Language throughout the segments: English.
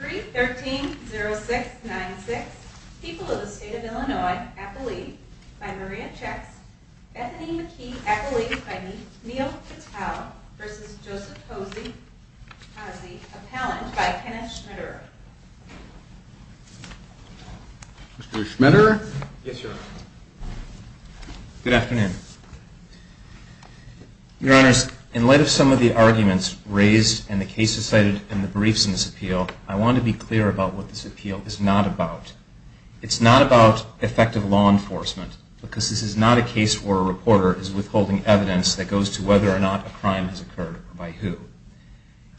313-0696, People of the State of Illinois, Appellee, by Maria Chex, Bethany McKee, Appellee, by Neil Patel, v. Joseph Hosey, Appellant, by Kenneth Schmiderer. Mr. Schmiderer? Yes, Your Honor. Good afternoon. Your Honors, in light of some of the arguments raised in the cases cited in the briefs in this appeal, I want to be clear about what this appeal is not about. It's not about effective law enforcement, because this is not a case where a reporter is withholding evidence that goes to whether or not a crime has occurred or by who.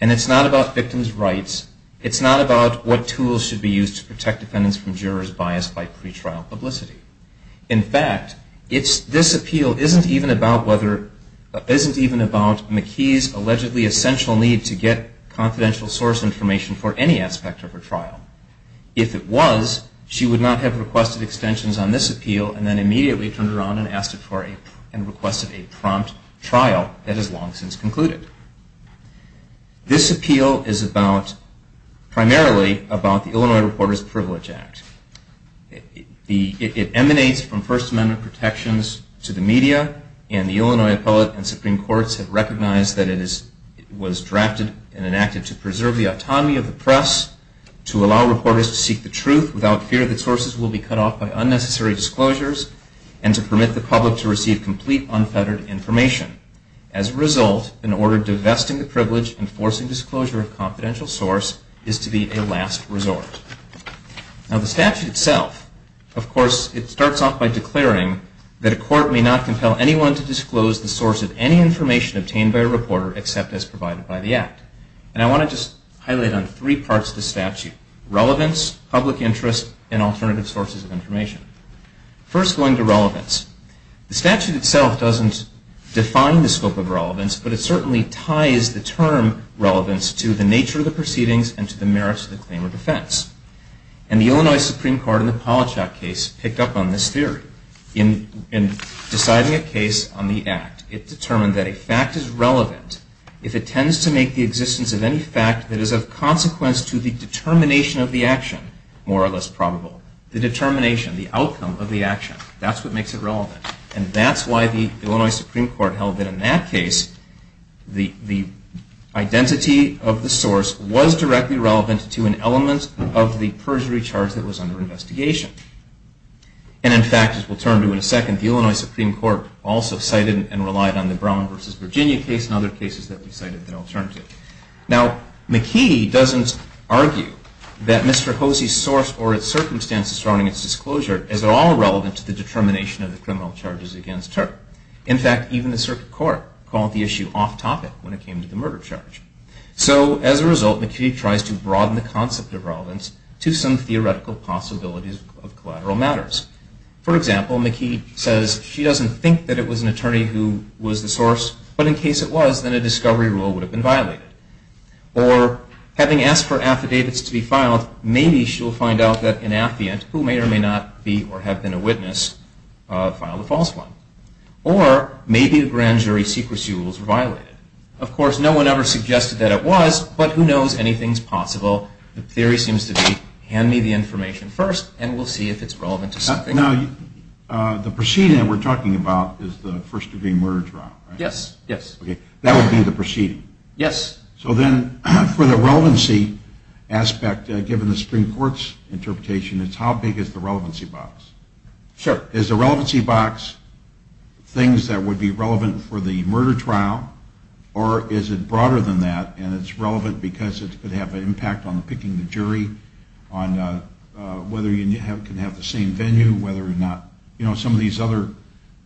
And it's not about victims' rights. It's not about what tools should be used to protect defendants from jurors biased by pretrial publicity. In fact, this appeal isn't even about McKee's allegedly essential need to get confidential source information for any aspect of her trial. If it was, she would not have requested extensions on this appeal and then immediately turned around and requested a prompt trial that has long since concluded. This appeal is primarily about the Illinois Reporters' Privilege Act. It emanates from First Amendment protections to the media, and the Illinois Appellate and Supreme Courts have recognized that it was drafted and enacted to preserve the autonomy of the press, to allow reporters to seek the truth without fear that sources will be cut off by unnecessary disclosures, and to permit the public to receive complete, unfettered information. As a result, an order divesting the privilege and forcing disclosure of confidential source is to be a last resort. Now, the statute itself, of course, it starts off by declaring that a court may not compel anyone to disclose the source of any information obtained by a reporter except as provided by the Act. And I want to just highlight on three parts of the statute, relevance, public interest, and alternative sources of information. First, going to relevance. The statute itself doesn't define the scope of relevance, but it certainly ties the term relevance to the nature of the proceedings and to the merits of the claim of defense. And the Illinois Supreme Court in the Polychak case picked up on this theory. In deciding a case on the Act, it determined that a fact is relevant if it tends to make the existence of any fact that is of consequence to the determination of the action more or less probable. The determination, the outcome of the action, that's what makes it relevant. And that's why the Illinois Supreme Court held that in that case, the identity of the source was directly relevant to an element of the perjury charge that was under investigation. And in fact, as we'll turn to in a second, the Illinois Supreme Court also cited and relied on the Brown v. Virginia case and other cases that we cited the alternative. Now, McKee doesn't argue that Mr. Hosea's source or its circumstances surrounding its disclosure is at all relevant to the determination of the criminal charges against her. In fact, even the circuit court called the issue off topic when it came to the murder charge. So as a result, McKee tries to broaden the concept of relevance to some theoretical possibilities of collateral matters. For example, McKee says she doesn't think that it was an attorney who was the source, but in case it was, then a discovery rule would have been violated. Or, having asked for affidavits to be filed, maybe she'll find out that an affiant, who may or may not be or have been a witness, filed a false one. Or, maybe a grand jury secrecy rules were violated. Of course, no one ever suggested that it was, but who knows, anything's possible. The theory seems to be, hand me the information first, and we'll see if it's relevant to something. Now, the proceeding that we're talking about is the first degree murder trial, right? Yes, yes. Okay, that would be the proceeding. Yes. So then, for the relevancy aspect, given the Supreme Court's interpretation, it's how big is the relevancy box? Sure. Is the relevancy box things that would be relevant for the murder trial, or is it broader than that, and it's relevant because it could have an impact on picking the jury, on whether you can have the same venue, whether or not, you know, some of these other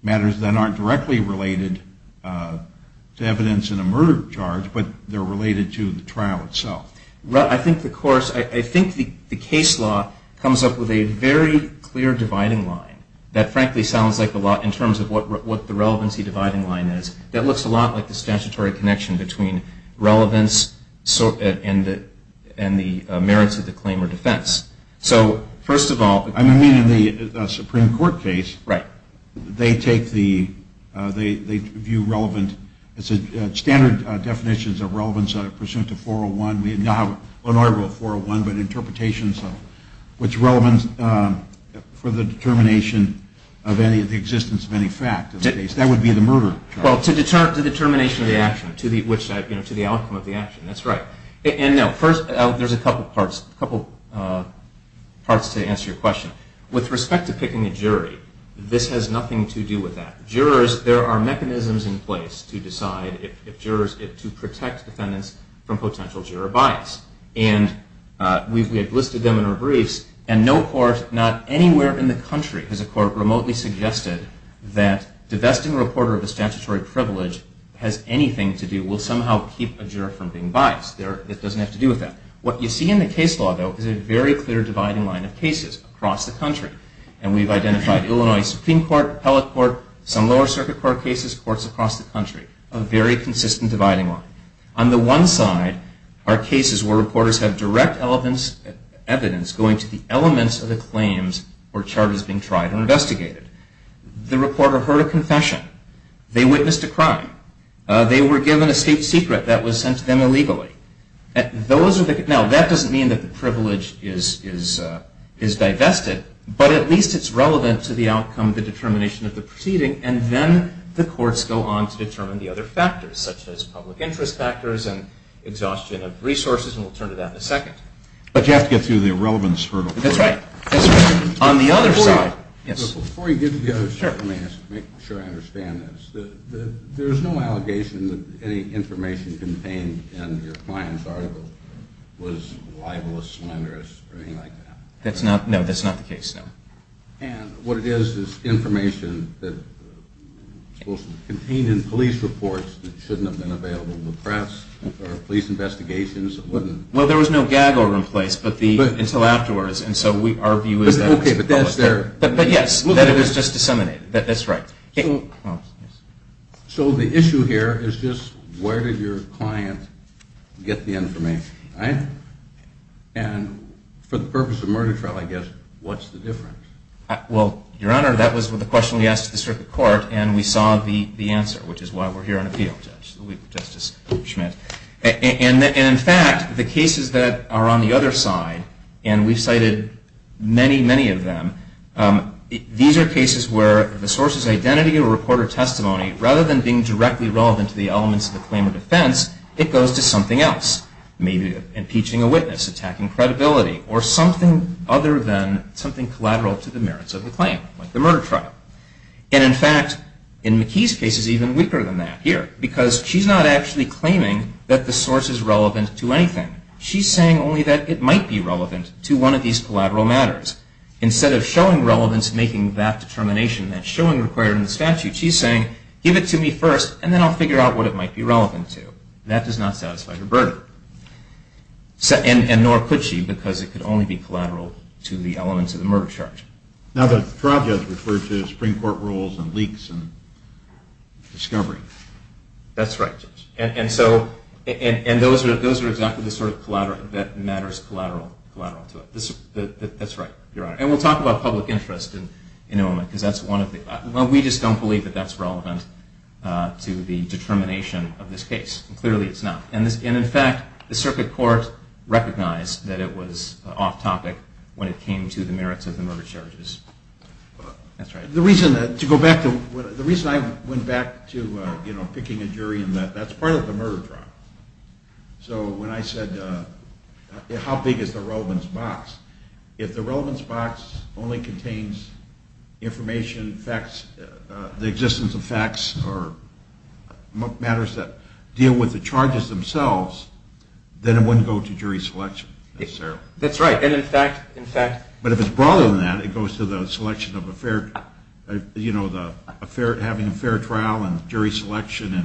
matters that aren't directly related to evidence in a murder charge, but they're related to the trial itself? Well, I think the case law comes up with a very clear dividing line. That, frankly, sounds like a lot in terms of what the relevancy dividing line is. That looks a lot like the statutory connection between relevance and the merits of the claim or defense. So, first of all- I mean, in the Supreme Court case- Right. They take the- they view relevant- standard definitions of relevance are pursuant to 401. We now have an order of 401, but interpretations of what's relevant for the determination of any of the existence of any fact of the case. That would be the murder trial. Well, to the determination of the action, to the outcome of the action. That's right. And now, first, there's a couple parts, a couple parts to answer your question. With respect to picking a jury, this has nothing to do with that. Jurors- there are mechanisms in place to decide if jurors- to protect defendants from potential juror bias. And we've listed them in our briefs, and no court, not anywhere in the country, has a court remotely suggested that divesting a reporter of a statutory privilege has anything to do- will somehow keep a juror from being biased. It doesn't have to do with that. What you see in the case law, though, is a very clear dividing line of cases across the country. And we've identified Illinois Supreme Court, Appellate Court, some lower circuit court cases, courts across the country. A very consistent dividing line. On the one side are cases where reporters have direct evidence going to the elements of the claims where charges are being tried and investigated. The reporter heard a confession. They witnessed a crime. They were given a state secret that was sent to them illegally. Now, that doesn't mean that the privilege is divested, but at least it's relevant to the outcome of the determination of the proceeding, and then the courts go on to determine the other factors, such as public interest factors and exhaustion of resources, and we'll turn to that in a second. But you have to get through the irrelevance hurdle. That's right. On the other side- Before you get to the other side, let me make sure I understand this. There is no allegation that any information contained in your client's article was libelous, slanderous, or anything like that? No, that's not the case, no. And what it is is information that was contained in police reports that shouldn't have been available to the press or police investigations? Well, there was no gag order in place until afterwards, and so our view is that- Okay, but that's their- But yes, that it was just disseminated. That's right. So the issue here is just where did your client get the information, right? And for the purpose of a murder trial, I guess, what's the difference? Well, Your Honor, that was the question we asked the circuit court, and we saw the answer, which is why we're here on appeal, Justice Schmidt. And in fact, the cases that are on the other side, and we've cited many, many of them, these are cases where the source's identity or report or testimony, rather than being directly relevant to the elements of the claim or defense, it goes to something else. Maybe impeaching a witness, attacking credibility, or something other than something collateral to the merits of the claim, like the murder trial. And in fact, in McKee's case, it's even weaker than that here, because she's not actually claiming that the source is relevant to anything. She's saying only that it might be relevant to one of these collateral matters. Instead of showing relevance, making that determination, that showing required in the statute, she's saying, give it to me first, and then I'll figure out what it might be relevant to. That does not satisfy her burden. And nor could she, because it could only be collateral to the elements of the murder charge. Now, the trial judge referred to Supreme Court rules and leaks and discovery. That's right, Judge. And those are exactly the sort of collateral that matters collateral to it. That's right, Your Honor. And we'll talk about public interest in a moment, because that's one of the – well, we just don't believe that that's relevant to the determination of this case. Clearly it's not. And in fact, the circuit court recognized that it was off-topic when it came to the merits of the murder charges. That's right. The reason I went back to picking a jury in that, that's part of the murder trial. So when I said how big is the relevance box, if the relevance box only contains information, facts, the existence of facts or matters that deal with the charges themselves, then it wouldn't go to jury selection necessarily. That's right. But if it's broader than that, it goes to the selection of a fair – you know, having a fair trial and jury selection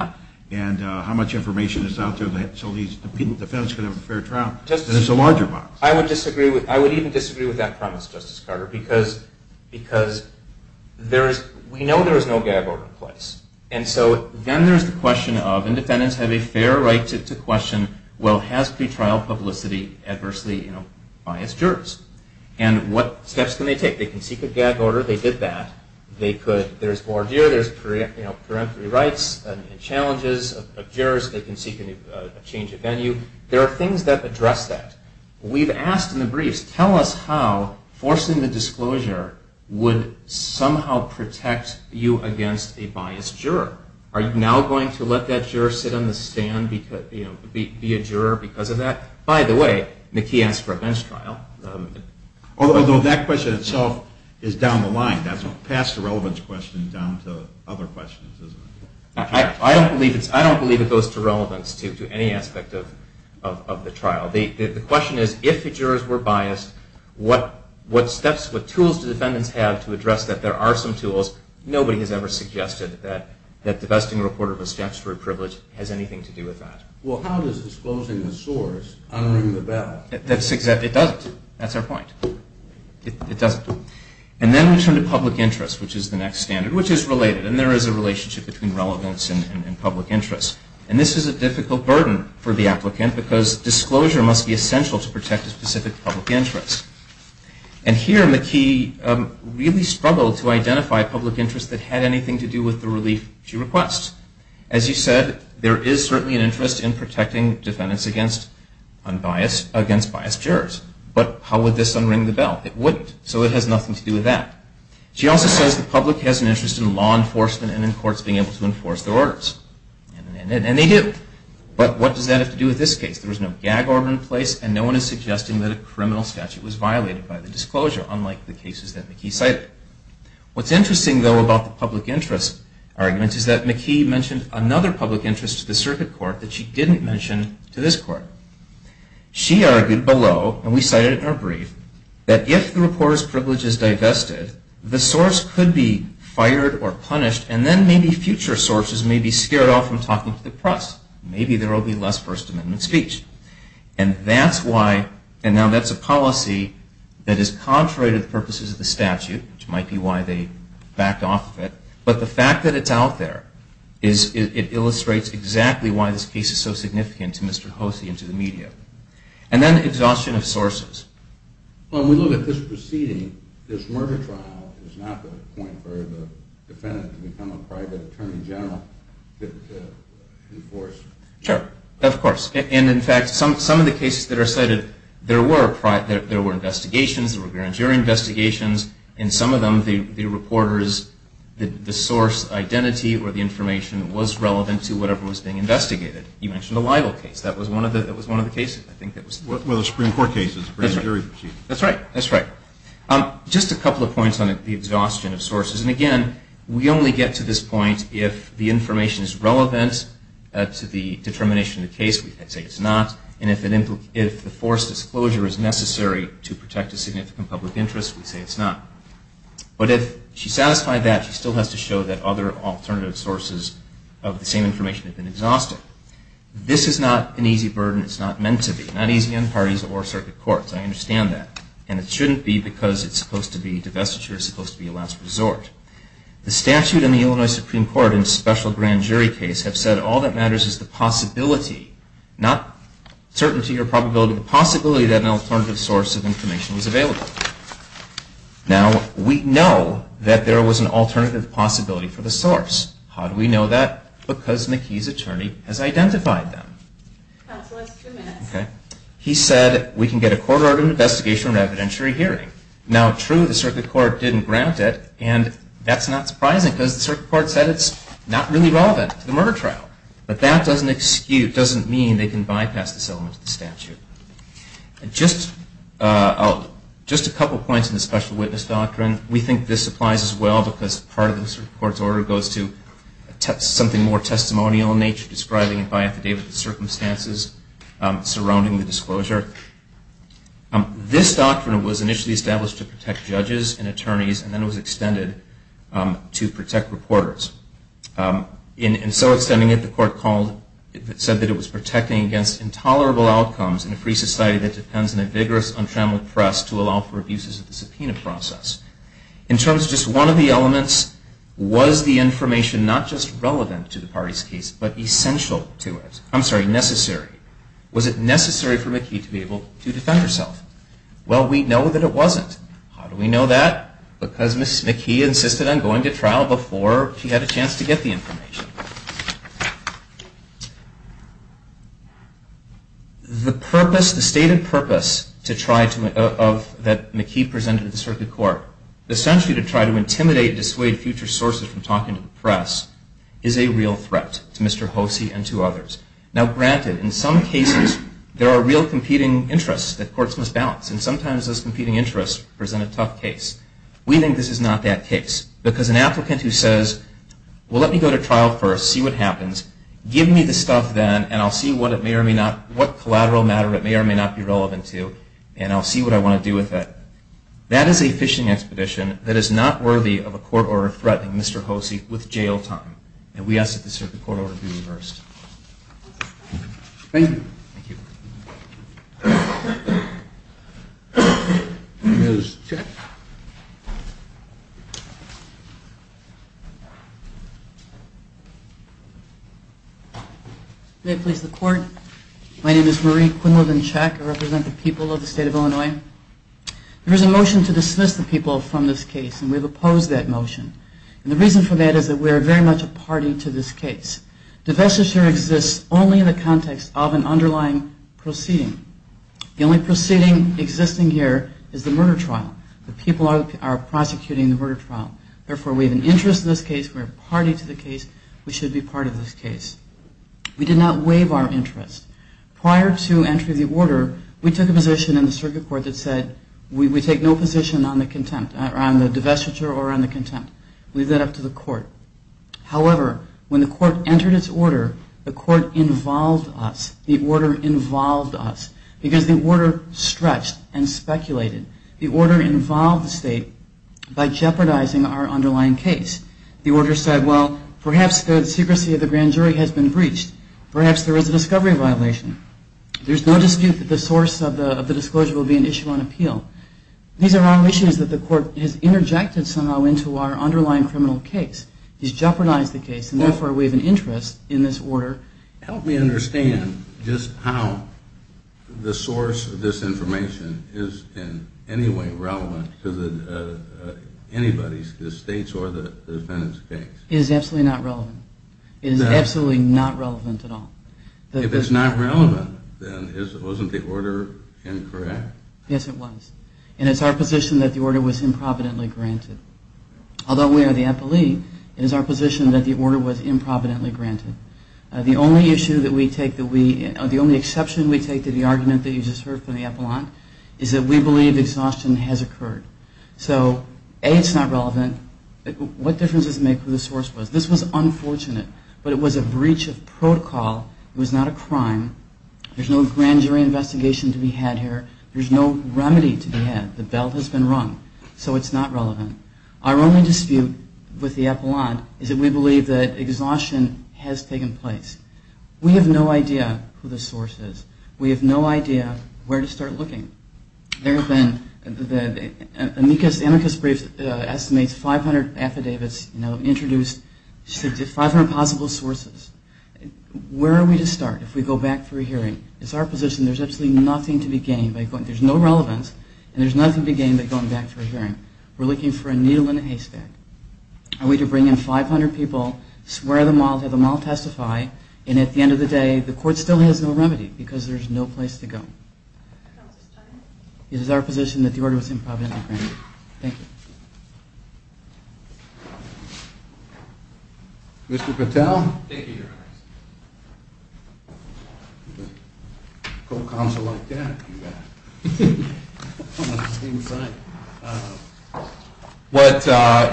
and how much information is out there so these defendants can have a fair trial. It's a larger box. I would even disagree with that premise, Justice Carter, because we know there is no gab over the place. And so then there's the question of defendants have a fair right to question, well, has pretrial publicity adversely biased jurors? And what steps can they take? They can seek a gab order. They did that. They could – there's voir dire. There's peremptory rights and challenges of jurors. They can seek a change of venue. There are things that address that. We've asked in the briefs, tell us how forcing the disclosure would somehow protect you against a biased juror. Are you now going to let that juror sit on the stand, be a juror because of that? By the way, McKee asked for a bench trial. Although that question itself is down the line. That's a past irrelevance question down to other questions, isn't it? I don't believe it goes to relevance to any aspect of the trial. The question is, if the jurors were biased, what steps, what tools do defendants have to address that? There are some tools. Nobody has ever suggested that the vesting report of a statutory privilege has anything to do with that. Well, how does disclosing the source unring the bell? It doesn't. That's our point. It doesn't. And then we turn to public interest, which is the next standard, which is related. And there is a relationship between relevance and public interest. And this is a difficult burden for the applicant because disclosure must be essential to protect a specific public interest. And here McKee really struggled to identify public interest that had anything to do with the relief she requests. As you said, there is certainly an interest in protecting defendants against biased jurors. But how would this unring the bell? It wouldn't, so it has nothing to do with that. She also says the public has an interest in law enforcement and in courts being able to enforce their orders. And they do. But what does that have to do with this case? There was no gag order in place, and no one is suggesting that a criminal statute was violated by the disclosure, unlike the cases that McKee cited. What's interesting, though, about the public interest argument is that McKee mentioned another public interest to the circuit court that she didn't mention to this court. She argued below, and we cited it in our brief, that if the reporter's privilege is divested, the source could be fired or punished, and then maybe future sources may be scared off from talking to the press. Maybe there will be less First Amendment speech. And now that's a policy that is contrary to the purposes of the statute, which might be why they backed off of it. But the fact that it's out there, it illustrates exactly why this case is so significant to Mr. Hosea and to the media. And then exhaustion of sources. Well, when we look at this proceeding, this murder trial is not the point for the defendant to become a private attorney general to enforce. Sure, of course. And, in fact, some of the cases that are cited, there were investigations, there were grand jury investigations, and some of them the reporter's source identity or the information was relevant to whatever was being investigated. You mentioned a libel case. That was one of the cases, I think. One of the Supreme Court cases, grand jury proceedings. That's right. That's right. Just a couple of points on the exhaustion of sources. And, again, we only get to this point if the information is relevant to the determination of the case. We say it's not. And if the forced disclosure is necessary to protect a significant public interest, we say it's not. But if she satisfied that, she still has to show that other alternative sources of the same information have been exhausted. This is not an easy burden. It's not meant to be. Not easy on parties or circuit courts. I understand that. And it shouldn't be because it's supposed to be divestiture, it's supposed to be a last resort. The statute in the Illinois Supreme Court in a special grand jury case have said all that matters is the possibility, not certainty or probability, the possibility that an alternative source of information was available. Now, we know that there was an alternative possibility for the source. How do we know that? Because McKee's attorney has identified them. Counsel, that's two minutes. Okay. He said we can get a court order of investigation or evidentiary hearing. Now, true, the circuit court didn't grant it. And that's not surprising, because the circuit court said it's not really relevant to the murder trial. But that doesn't mean they can bypass this element of the statute. Just a couple points on the special witness doctrine. We think this applies as well, because part of the circuit court's order goes to something more testimonial describing it by affidavit of circumstances surrounding the disclosure. This doctrine was initially established to protect judges and attorneys and then it was extended to protect reporters. In so extending it, the court said that it was protecting against intolerable outcomes in a free society that depends on a vigorous, untrammeled press to allow for abuses of the subpoena process. In terms of just one of the elements, was the information not just relevant to the party's case, but essential to it? I'm sorry, necessary. Was it necessary for McKee to be able to defend herself? Well, we know that it wasn't. How do we know that? Because Ms. McKee insisted on going to trial before she had a chance to get the information. The stated purpose that McKee presented to the circuit court, essentially to try to intimidate and dissuade future sources from talking to the press, is a real threat to Mr. Hosea and to others. Now granted, in some cases, there are real competing interests that courts must balance and sometimes those competing interests present a tough case. We think this is not that case. Because an applicant who says, well let me go to trial first, see what happens, give me the stuff then and I'll see what collateral matter it may or may not be relevant to and I'll see what I want to do with it. That is a fishing expedition that is not worthy of a court order threatening Mr. Hosea with jail time. And we ask that the circuit court order be reversed. Thank you. May it please the court. My name is Marie Quinlivan Check. I represent the people of the state of Illinois. There is a motion to dismiss the people from this case and we have opposed that motion. And the reason for that is that we are very much a party to this case. Divestiture exists only in the context of an underlying proceeding. The only proceeding existing here is the murder trial. The people are prosecuting the murder trial. Therefore we have an interest in this case, we are a party to the case, we should be part of this case. We did not waive our interest. Prior to entry of the order, we took a position in the circuit court that said we take no position on the contempt, on the divestiture or on the contempt. Leave that up to the court. However, when the court entered its order, the court involved us. The order involved us. Because the order stretched and speculated. The order involved the state by jeopardizing our underlying case. The order said, well, perhaps the secrecy of the grand jury has been breached. Perhaps there is a discovery violation. There is no dispute that the source of the disclosure will be an issue on appeal. These are all issues that the court has interjected somehow into our underlying criminal case. He's jeopardized the case, and therefore we have an interest in this order. Help me understand just how the source of this information is in any way relevant to anybody's, the state's or the defendant's case. It is absolutely not relevant. It is absolutely not relevant at all. If it's not relevant, then wasn't the order incorrect? Yes, it was. And it's our position that the order was improvidently granted. Although we are the appellee, it is our position that the order was improvidently granted. The only issue that we take that we, the only exception we take to the argument that you just heard from the appellant is that we believe exhaustion has occurred. So, A, it's not relevant. What difference does it make who the source was? This was unfortunate, but it was a breach of protocol. It was not a crime. There's no grand jury investigation to be had here. There's no remedy to be had. The bell has been rung. So it's not relevant. Our only dispute with the appellant is that we believe that exhaustion has taken place. We have no idea who the source is. We have no idea where to start looking. There have been, the amicus brief estimates 500 affidavits introduced, 500 possible sources. Where are we to start if we go back for a hearing? It's our position there's absolutely nothing to be gained by going, there's no relevance, and there's nothing to be gained by going back for a hearing. We're looking for a needle in a haystack. Are we to bring in 500 people, swear them all, have them all testify, and at the end of the day the court still has no remedy because there's no place to go? It is our position that the order was improvidently granted. Thank you. Mr. Patel? Thank you, Your Honor. A co-counsel like that, you got it. Almost the same side. What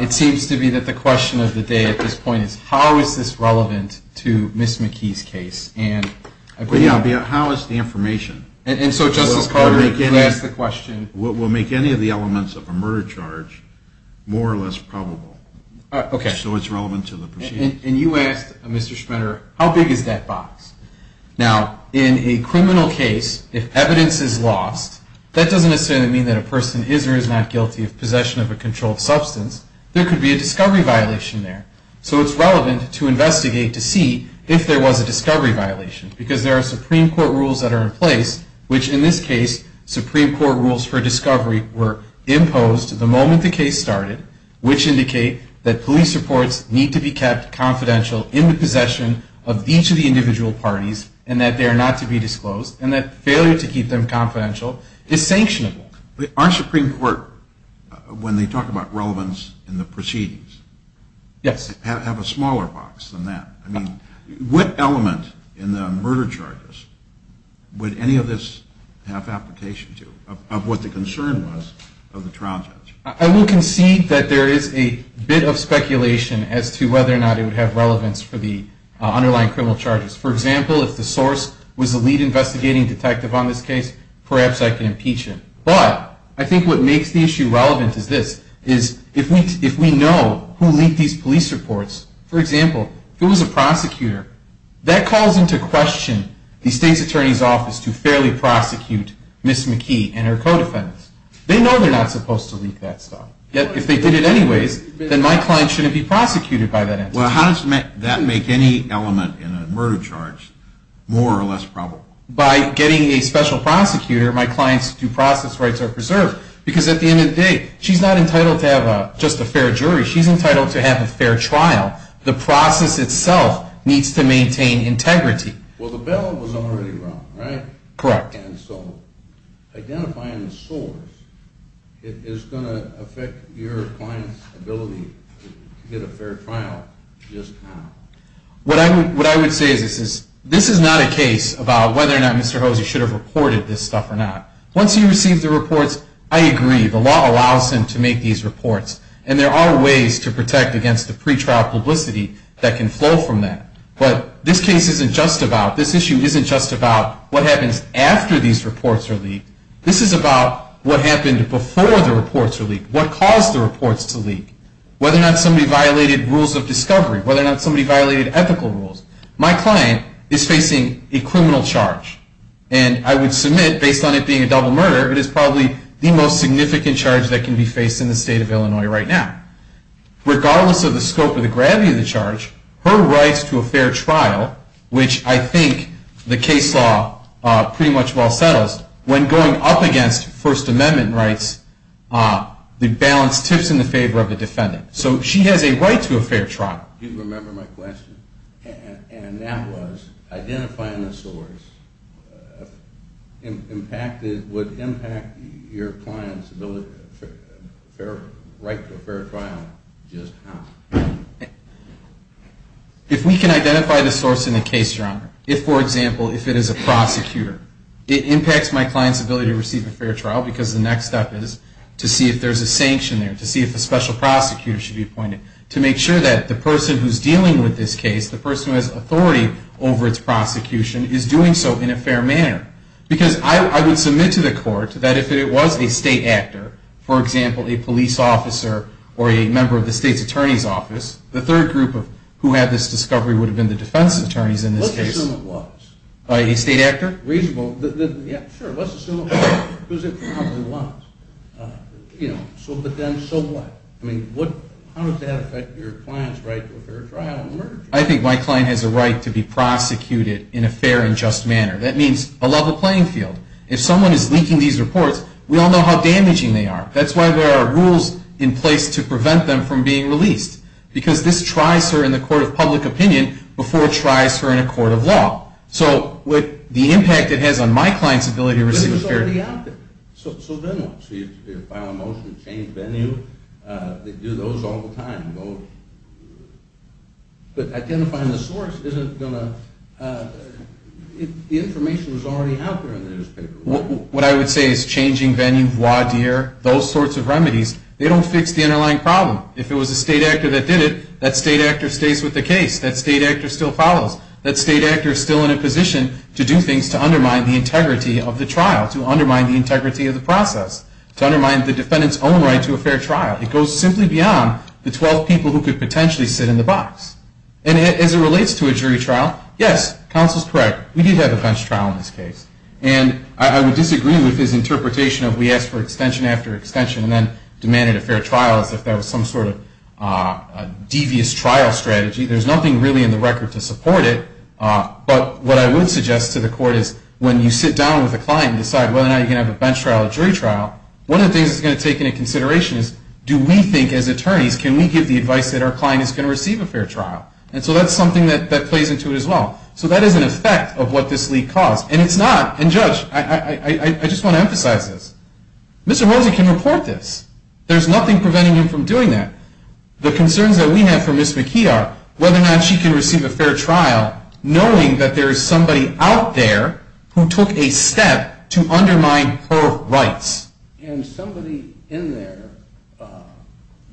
it seems to be that the question of the day at this point is, how is this relevant to Ms. McKee's case? How is the information? And so, Justice Carter, you can ask the question. We'll make any of the elements of a murder charge more or less probable. Okay. So it's relevant to the proceedings. And you asked, Mr. Schmider, how big is that box? Now, in a criminal case, if evidence is lost, that doesn't necessarily mean that a person is or is not guilty of possession of a controlled substance. There could be a discovery violation there. So it's relevant to investigate to see if there was a discovery violation because there are Supreme Court rules that are in place, which in this case, Supreme Court rules for discovery were imposed the moment the case started, which indicate that police reports need to be kept confidential in the possession of each of the individual parties and that they are not to be disclosed and that failure to keep them confidential is sanctionable. Our Supreme Court, when they talk about relevance in the proceedings, have a smaller box than that. I mean, what element in the murder charges would any of this have application to of what the concern was of the trial judge? I will concede that there is a bit of speculation as to whether or not it would have relevance for the underlying criminal charges. For example, if the source was the lead investigating detective on this case, perhaps I can impeach him. But I think what makes the issue relevant is this, is if we know who leaked these police reports, for example, if it was a prosecutor, that calls into question the state's attorney's office to fairly prosecute Ms. McKee and her co-defendants. They know they're not supposed to leak that stuff. Yet if they did it anyways, then my client shouldn't be prosecuted by that entity. Well, how does that make any element in a murder charge more or less probable? By getting a special prosecutor, my client's due process rights are preserved because at the end of the day, she's not entitled to have just a fair jury. She's entitled to have a fair trial. The process itself needs to maintain integrity. Well, the bail was already wrong, right? Correct. And so identifying the source is going to affect your client's ability to get a fair trial just now. What I would say is this is not a case about whether or not Mr. Hosea should have reported this stuff or not. Once he receives the reports, I agree. The law allows him to make these reports. And there are ways to protect against the pretrial publicity that can flow from that. But this case isn't just about, this issue isn't just about what happens after these reports are leaked. This is about what happened before the reports were leaked, what caused the reports to leak, whether or not somebody violated rules of discovery, whether or not somebody violated ethical rules. My client is facing a criminal charge. And I would submit, based on it being a double murder, it is probably the most significant charge that can be faced in the state of Illinois right now. Regardless of the scope or the gravity of the charge, her rights to a fair trial, which I think the case law pretty much well settles, when going up against First Amendment rights, the balance tips in favor of the defendant. So she has a right to a fair trial. Do you remember my question? And that was, identifying the source would impact your client's right to a fair trial just how? If we can identify the source in a case, for example, if it is a prosecutor, it impacts my client's ability to receive a fair trial because the next step is to see if there's a sanction there, to see if a special prosecutor should be appointed. To make sure that the person who's dealing with this case, the person who has authority over its prosecution, is doing so in a fair manner. Because I would submit to the court that if it was a state actor, for example, a police officer or a member of the state's attorney's office, the third group who had this discovery would have been the defense attorneys in this case. Let's assume it was. A state actor? Reasonable. Yeah, sure. Let's assume it was. It was in front of the lines. But then so what? How does that affect your client's right to a fair trial? I think my client has a right to be prosecuted in a fair and just manner. That means a level playing field. If someone is leaking these reports, we all know how damaging they are. That's why there are rules in place to prevent them from being released. Because this tries her in the court of public opinion before it tries her in a court of law. So the impact it has on my client's ability to receive a fair trial. So then what? So you file a motion to change venue? They do those all the time. But identifying the source isn't going to – the information is already out there in the newspaper. What I would say is changing venue, voir dire, those sorts of remedies, they don't fix the underlying problem. If it was a state actor that did it, that state actor stays with the case. That state actor still follows. That state actor is still in a position to do things to undermine the integrity of the trial, to undermine the integrity of the process, to undermine the defendant's own right to a fair trial. It goes simply beyond the 12 people who could potentially sit in the box. And as it relates to a jury trial, yes, counsel is correct. We did have a bench trial in this case. And I would disagree with his interpretation of we asked for extension after extension and then demanded a fair trial as if that was some sort of devious trial strategy. There's nothing really in the record to support it. But what I would suggest to the court is when you sit down with a client and decide whether or not you're going to have a bench trial or a jury trial, one of the things that's going to take into consideration is do we think as attorneys, can we give the advice that our client is going to receive a fair trial? And so that's something that plays into it as well. So that is an effect of what this leak caused. And it's not – and, Judge, I just want to emphasize this. Mr. Moseley can report this. There's nothing preventing him from doing that. The concerns that we have for Ms. McKee are whether or not she can receive a fair trial knowing that there is somebody out there who took a step to undermine her rights. And somebody in there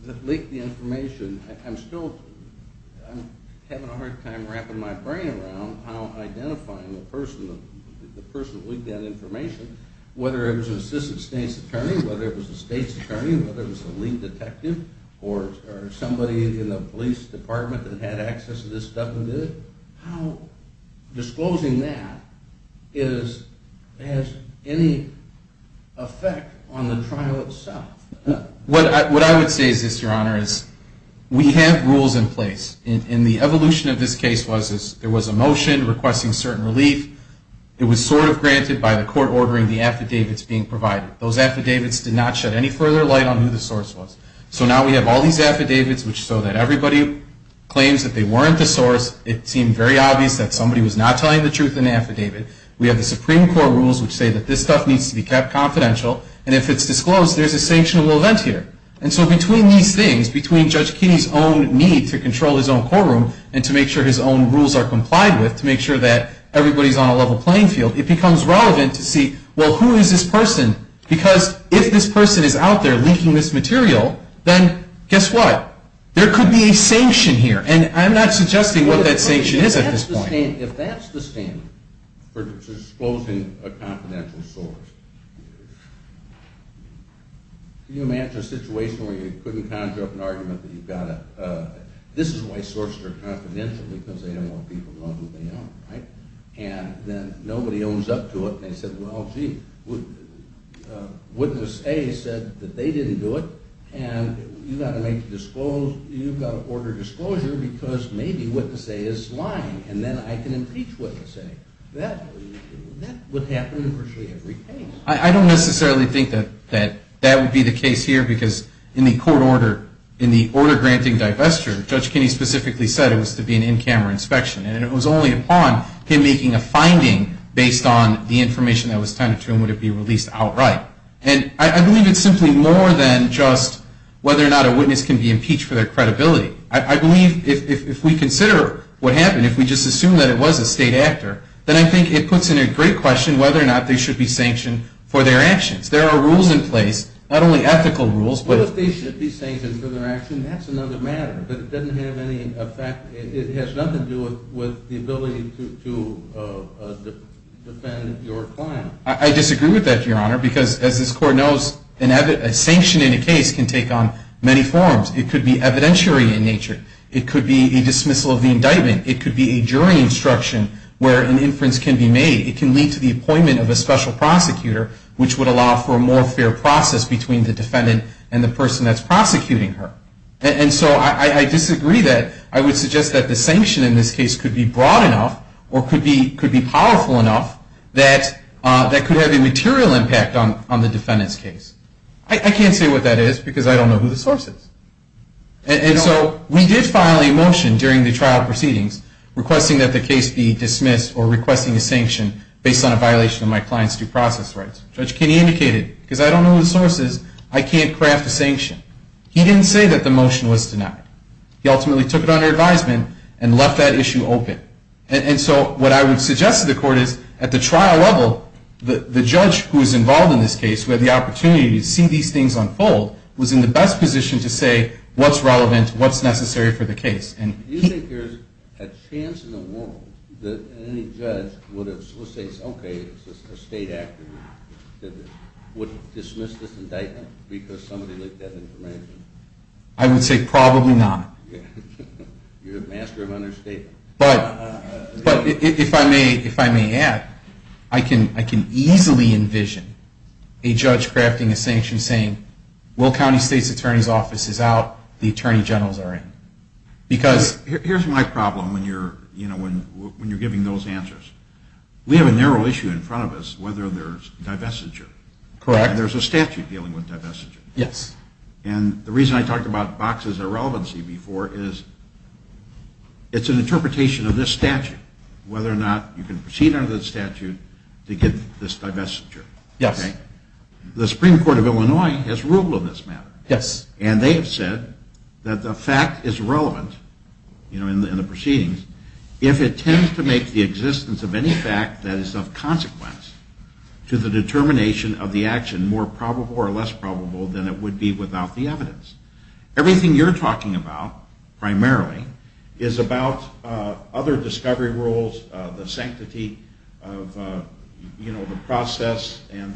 that leaked the information, I'm still – I'm having a hard time wrapping my brain around how identifying the person that leaked that information, whether it was an assistant state's attorney, whether it was a state's attorney, whether it was a leak detective, or somebody in the police department that had access to this stuff and did it, how disclosing that is – has any effect on the trial itself. What I would say is this, Your Honor, is we have rules in place. And the evolution of this case was there was a motion requesting certain relief. It was sort of granted by the court ordering the affidavits being provided. Those affidavits did not shed any further light on who the source was. So now we have all these affidavits which show that everybody claims that they weren't the source. It seemed very obvious that somebody was not telling the truth in the affidavit. We have the Supreme Court rules which say that this stuff needs to be kept confidential. And if it's disclosed, there's a sanctionable event here. And so between these things, between Judge Keeney's own need to control his own courtroom and to make sure his own rules are complied with to make sure that everybody's on a level playing field, it becomes relevant to see, well, who is this person? Because if this person is out there leaking this material, then guess what? There could be a sanction here. And I'm not suggesting what that sanction is at this point. If that's the standard for disclosing a confidential source, can you imagine a situation where you couldn't conjure up an argument that you've got to – this is why sources are confidential, because they don't want people to know who they are, right? And then nobody owns up to it. And they said, well, gee, Witness A said that they didn't do it, and you've got to order disclosure because maybe Witness A is lying, and then I can impeach Witness A. That would happen in virtually every case. I don't necessarily think that that would be the case here, because in the court order, in the order granting divestiture, Judge Keeney specifically said it was to be an in-camera inspection. And it was only upon him making a finding based on the information that was tended to him would it be released outright. And I believe it's simply more than just whether or not a witness can be impeached for their credibility. I believe if we consider what happened, if we just assume that it was a state actor, then I think it puts in a great question whether or not they should be sanctioned for their actions. There are rules in place, not only ethical rules, but – Well, if they should be sanctioned for their actions, that's another matter. But it doesn't have any effect. It has nothing to do with the ability to defend your client. I disagree with that, Your Honor, because as this Court knows, a sanction in a case can take on many forms. It could be evidentiary in nature. It could be a dismissal of the indictment. It could be a jury instruction where an inference can be made. It can lead to the appointment of a special prosecutor, which would allow for a more fair process between the defendant and the person that's prosecuting her. And so I disagree that. I would suggest that the sanction in this case could be broad enough or could be powerful enough that that could have a material impact on the defendant's case. I can't say what that is because I don't know who the source is. And so we did file a motion during the trial proceedings requesting that the case be dismissed or requesting a sanction based on a violation of my client's due process rights. Judge Kinney indicated, because I don't know who the source is, I can't craft a sanction. He didn't say that the motion was denied. He ultimately took it under advisement and left that issue open. And so what I would suggest to the Court is at the trial level, the judge who is involved in this case, who had the opportunity to see these things unfold, was in the best position to say what's relevant, what's necessary for the case. Do you think there's a chance in the world that any judge would say, okay, a state act would dismiss this indictment because somebody leaked that information? I would say probably not. You're a master of understatement. But if I may add, I can easily envision a judge crafting a sanction saying, Will County State's Attorney's Office is out, the Attorney General's are in. Here's my problem when you're giving those answers. We have a narrow issue in front of us, whether there's divestiture. Correct. And there's a statute dealing with divestiture. Yes. And the reason I talked about boxes of relevancy before is it's an interpretation of this statute, whether or not you can proceed under the statute to get this divestiture. Yes. The Supreme Court of Illinois has ruled on this matter. Yes. And they have said that the fact is relevant in the proceedings if it tends to make the existence of any fact that is of consequence to the determination of the action more probable or less probable than it would be without the evidence. Everything you're talking about primarily is about other discovery rules, the sanctity of the process and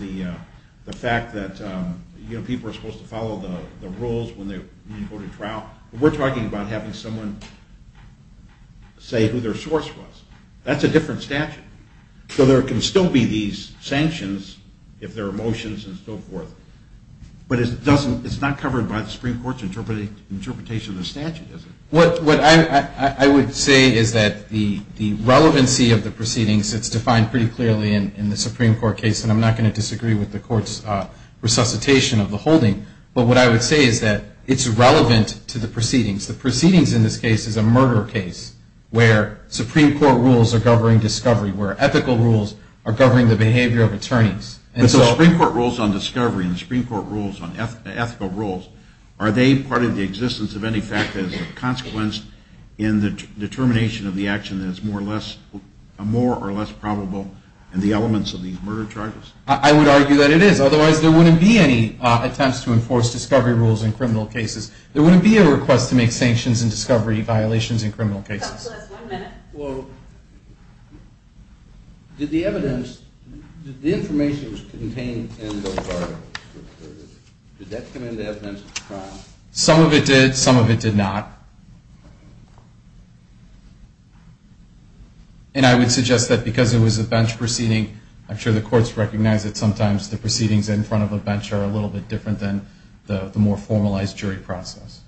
the fact that people are supposed to follow the rules when they go to trial. We're talking about having someone say who their source was. That's a different statute. So there can still be these sanctions if there are motions and so forth. But it's not covered by the Supreme Court's interpretation of the statute, is it? What I would say is that the relevancy of the proceedings, it's defined pretty clearly in the Supreme Court case, and I'm not going to disagree with the Court's resuscitation of the holding. But what I would say is that it's relevant to the proceedings. The proceedings in this case is a murder case where Supreme Court rules are governing discovery, where ethical rules are governing the behavior of attorneys. But the Supreme Court rules on discovery and the Supreme Court rules on ethical rules, are they part of the existence of any fact that is of consequence in the determination of the action that is more or less probable in the elements of these murder charges? I would argue that it is. Otherwise, there wouldn't be any attempts to enforce discovery rules in criminal cases. There wouldn't be a request to make sanctions in discovery violations in criminal cases. That's the last one minute. Well, did the evidence, did the information contained in those articles, did that come into evidence at the trial? Some of it did, some of it did not. And I would suggest that because it was a bench proceeding, I'm sure the courts recognize that sometimes the proceedings in front of a bench are a little bit different than the more formalized jury process.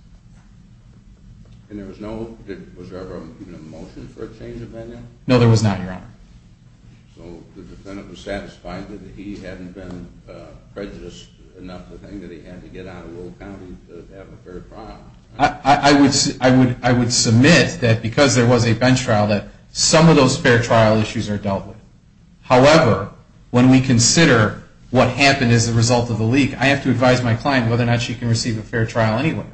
And there was no, was there ever even a motion for a change of venue? No, there was not, Your Honor. So the defendant was satisfied that he hadn't been prejudiced enough to think that he had to get out of Lowell County to have a fair trial. I would submit that because there was a bench trial, that some of those fair trial issues are dealt with. However, when we consider what happened as a result of the leak, I have to advise my client whether or not she can receive a fair trial anyway.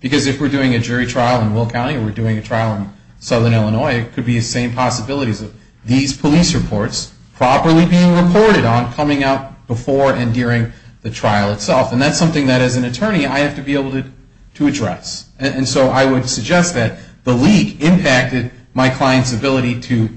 Because if we're doing a jury trial in Will County or we're doing a trial in southern Illinois, it could be the same possibilities of these police reports properly being reported on coming out before and during the trial itself. And that's something that, as an attorney, I have to be able to address. And so I would suggest that the leak impacted my client's ability to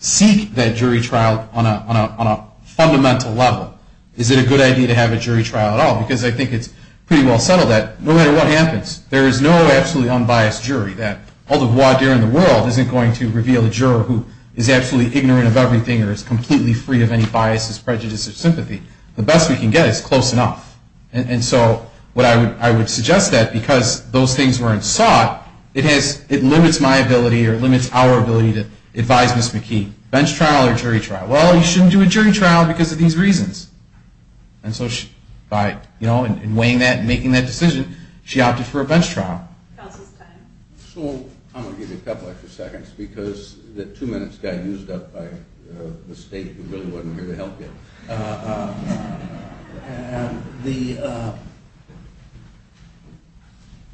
seek that jury trial on a fundamental level. Is it a good idea to have a jury trial at all? Because I think it's pretty well settled that no matter what happens, there is no absolutely unbiased jury, that all the voir dire in the world isn't going to reveal a juror who is absolutely ignorant of everything or is completely free of any biases, prejudices, or sympathy. The best we can get is close enough. And so I would suggest that because those things weren't sought, it limits my ability or limits our ability to advise Ms. McKee. Bench trial or jury trial? Well, you shouldn't do a jury trial because of these reasons. And so by weighing that and making that decision, she opted for a bench trial. Counsel's time. So I'm going to give you a couple extra seconds because the two minutes got used up by the state who really wasn't here to help you.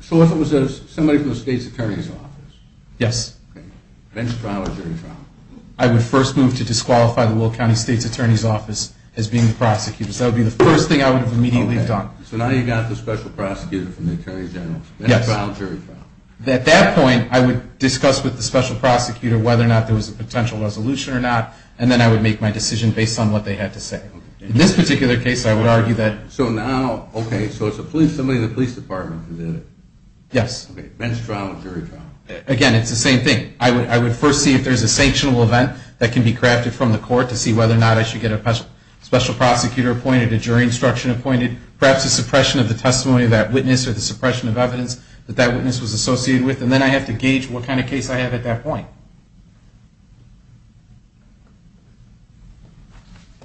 So if it was somebody from the state's attorney's office? Yes. Okay. Bench trial or jury trial? I would first move to disqualify the Will County State's Attorney's Office as being the prosecutor. So that would be the first thing I would have immediately done. Okay. So now you've got the special prosecutor from the Attorney General. Yes. Bench trial or jury trial? At that point, I would discuss with the special prosecutor whether or not there was a potential resolution or not, and then I would make my decision based on what they had to say. Okay. In this particular case, I would argue that. So now, okay, so it's somebody in the police department who did it? Yes. Okay. Bench trial or jury trial? Again, it's the same thing. I would first see if there's a sanctionable event that can be crafted from the court to see whether or not I should get a special prosecutor appointed, a jury instruction appointed, perhaps a suppression of the testimony of that witness or the suppression of evidence that that witness was associated with, and then I have to gauge what kind of case I have at that point.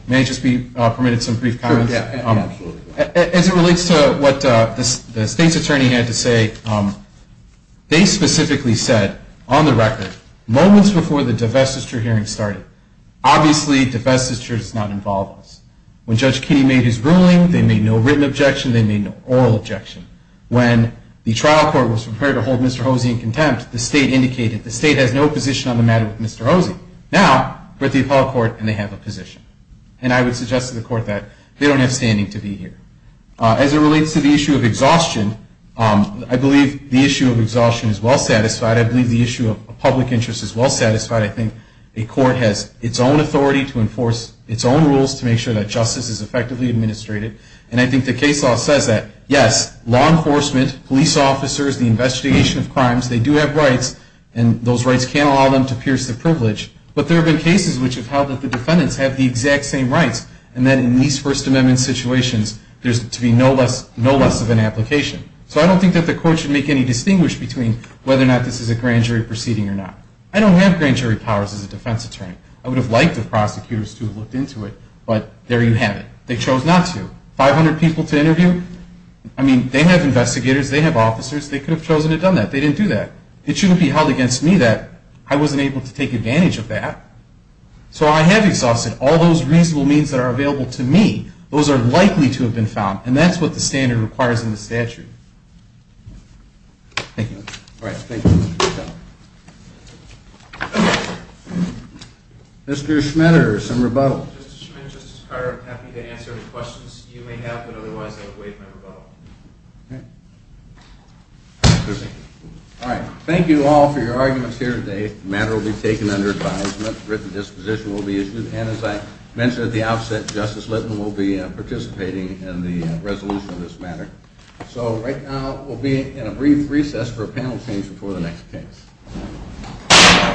May I just be permitted some brief comments? Sure. Absolutely. As it relates to what the state's attorney had to say, they specifically said on the record moments before the divestiture hearing started, obviously divestiture does not involve us. When Judge Kinney made his ruling, they made no written objection, they made no oral objection. When the trial court was prepared to hold Mr. Hosey in contempt, the state indicated the state has no position on the matter with Mr. Hosey. Now, we're at the appellate court and they have a position, and I would suggest to the court that they don't have standing to be here. As it relates to the issue of exhaustion, I believe the issue of exhaustion is well satisfied. I believe the issue of public interest is well satisfied. I think a court has its own authority to enforce its own rules to make sure that justice is effectively administrated, and I think the case law says that, yes, law enforcement, police officers, the investigation of crimes, they do have rights, and those rights can't allow them to pierce the privilege, but there have been cases which have held that the defendants have the exact same rights, and then in these First Amendment situations, there's to be no less of an application. So I don't think that the court should make any distinguish between whether or not this is a grand jury proceeding or not. I don't have grand jury powers as a defense attorney. I would have liked the prosecutors to have looked into it, but there you have it. They chose not to. Five hundred people to interview? I mean, they have investigators, they have officers, they could have chosen to have done that. They didn't do that. It shouldn't be held against me that I wasn't able to take advantage of that. So I have exhausted all those reasonable means that are available to me. Those are likely to have been found, and that's what the standard requires in the statute. Thank you. All right. Thank you. Mr. Schmitter, some rebuttal. Mr. Schmitter, Justice Carter, I'm happy to answer any questions you may have, but otherwise I've waived my rebuttal. Okay. All right. Thank you all for your arguments here today. The matter will be taken under advisement. A written disposition will be issued, and as I mentioned at the outset, Justice Littman will be participating in the resolution of this matter. So right now we'll be in a brief recess for a panel change before the next case.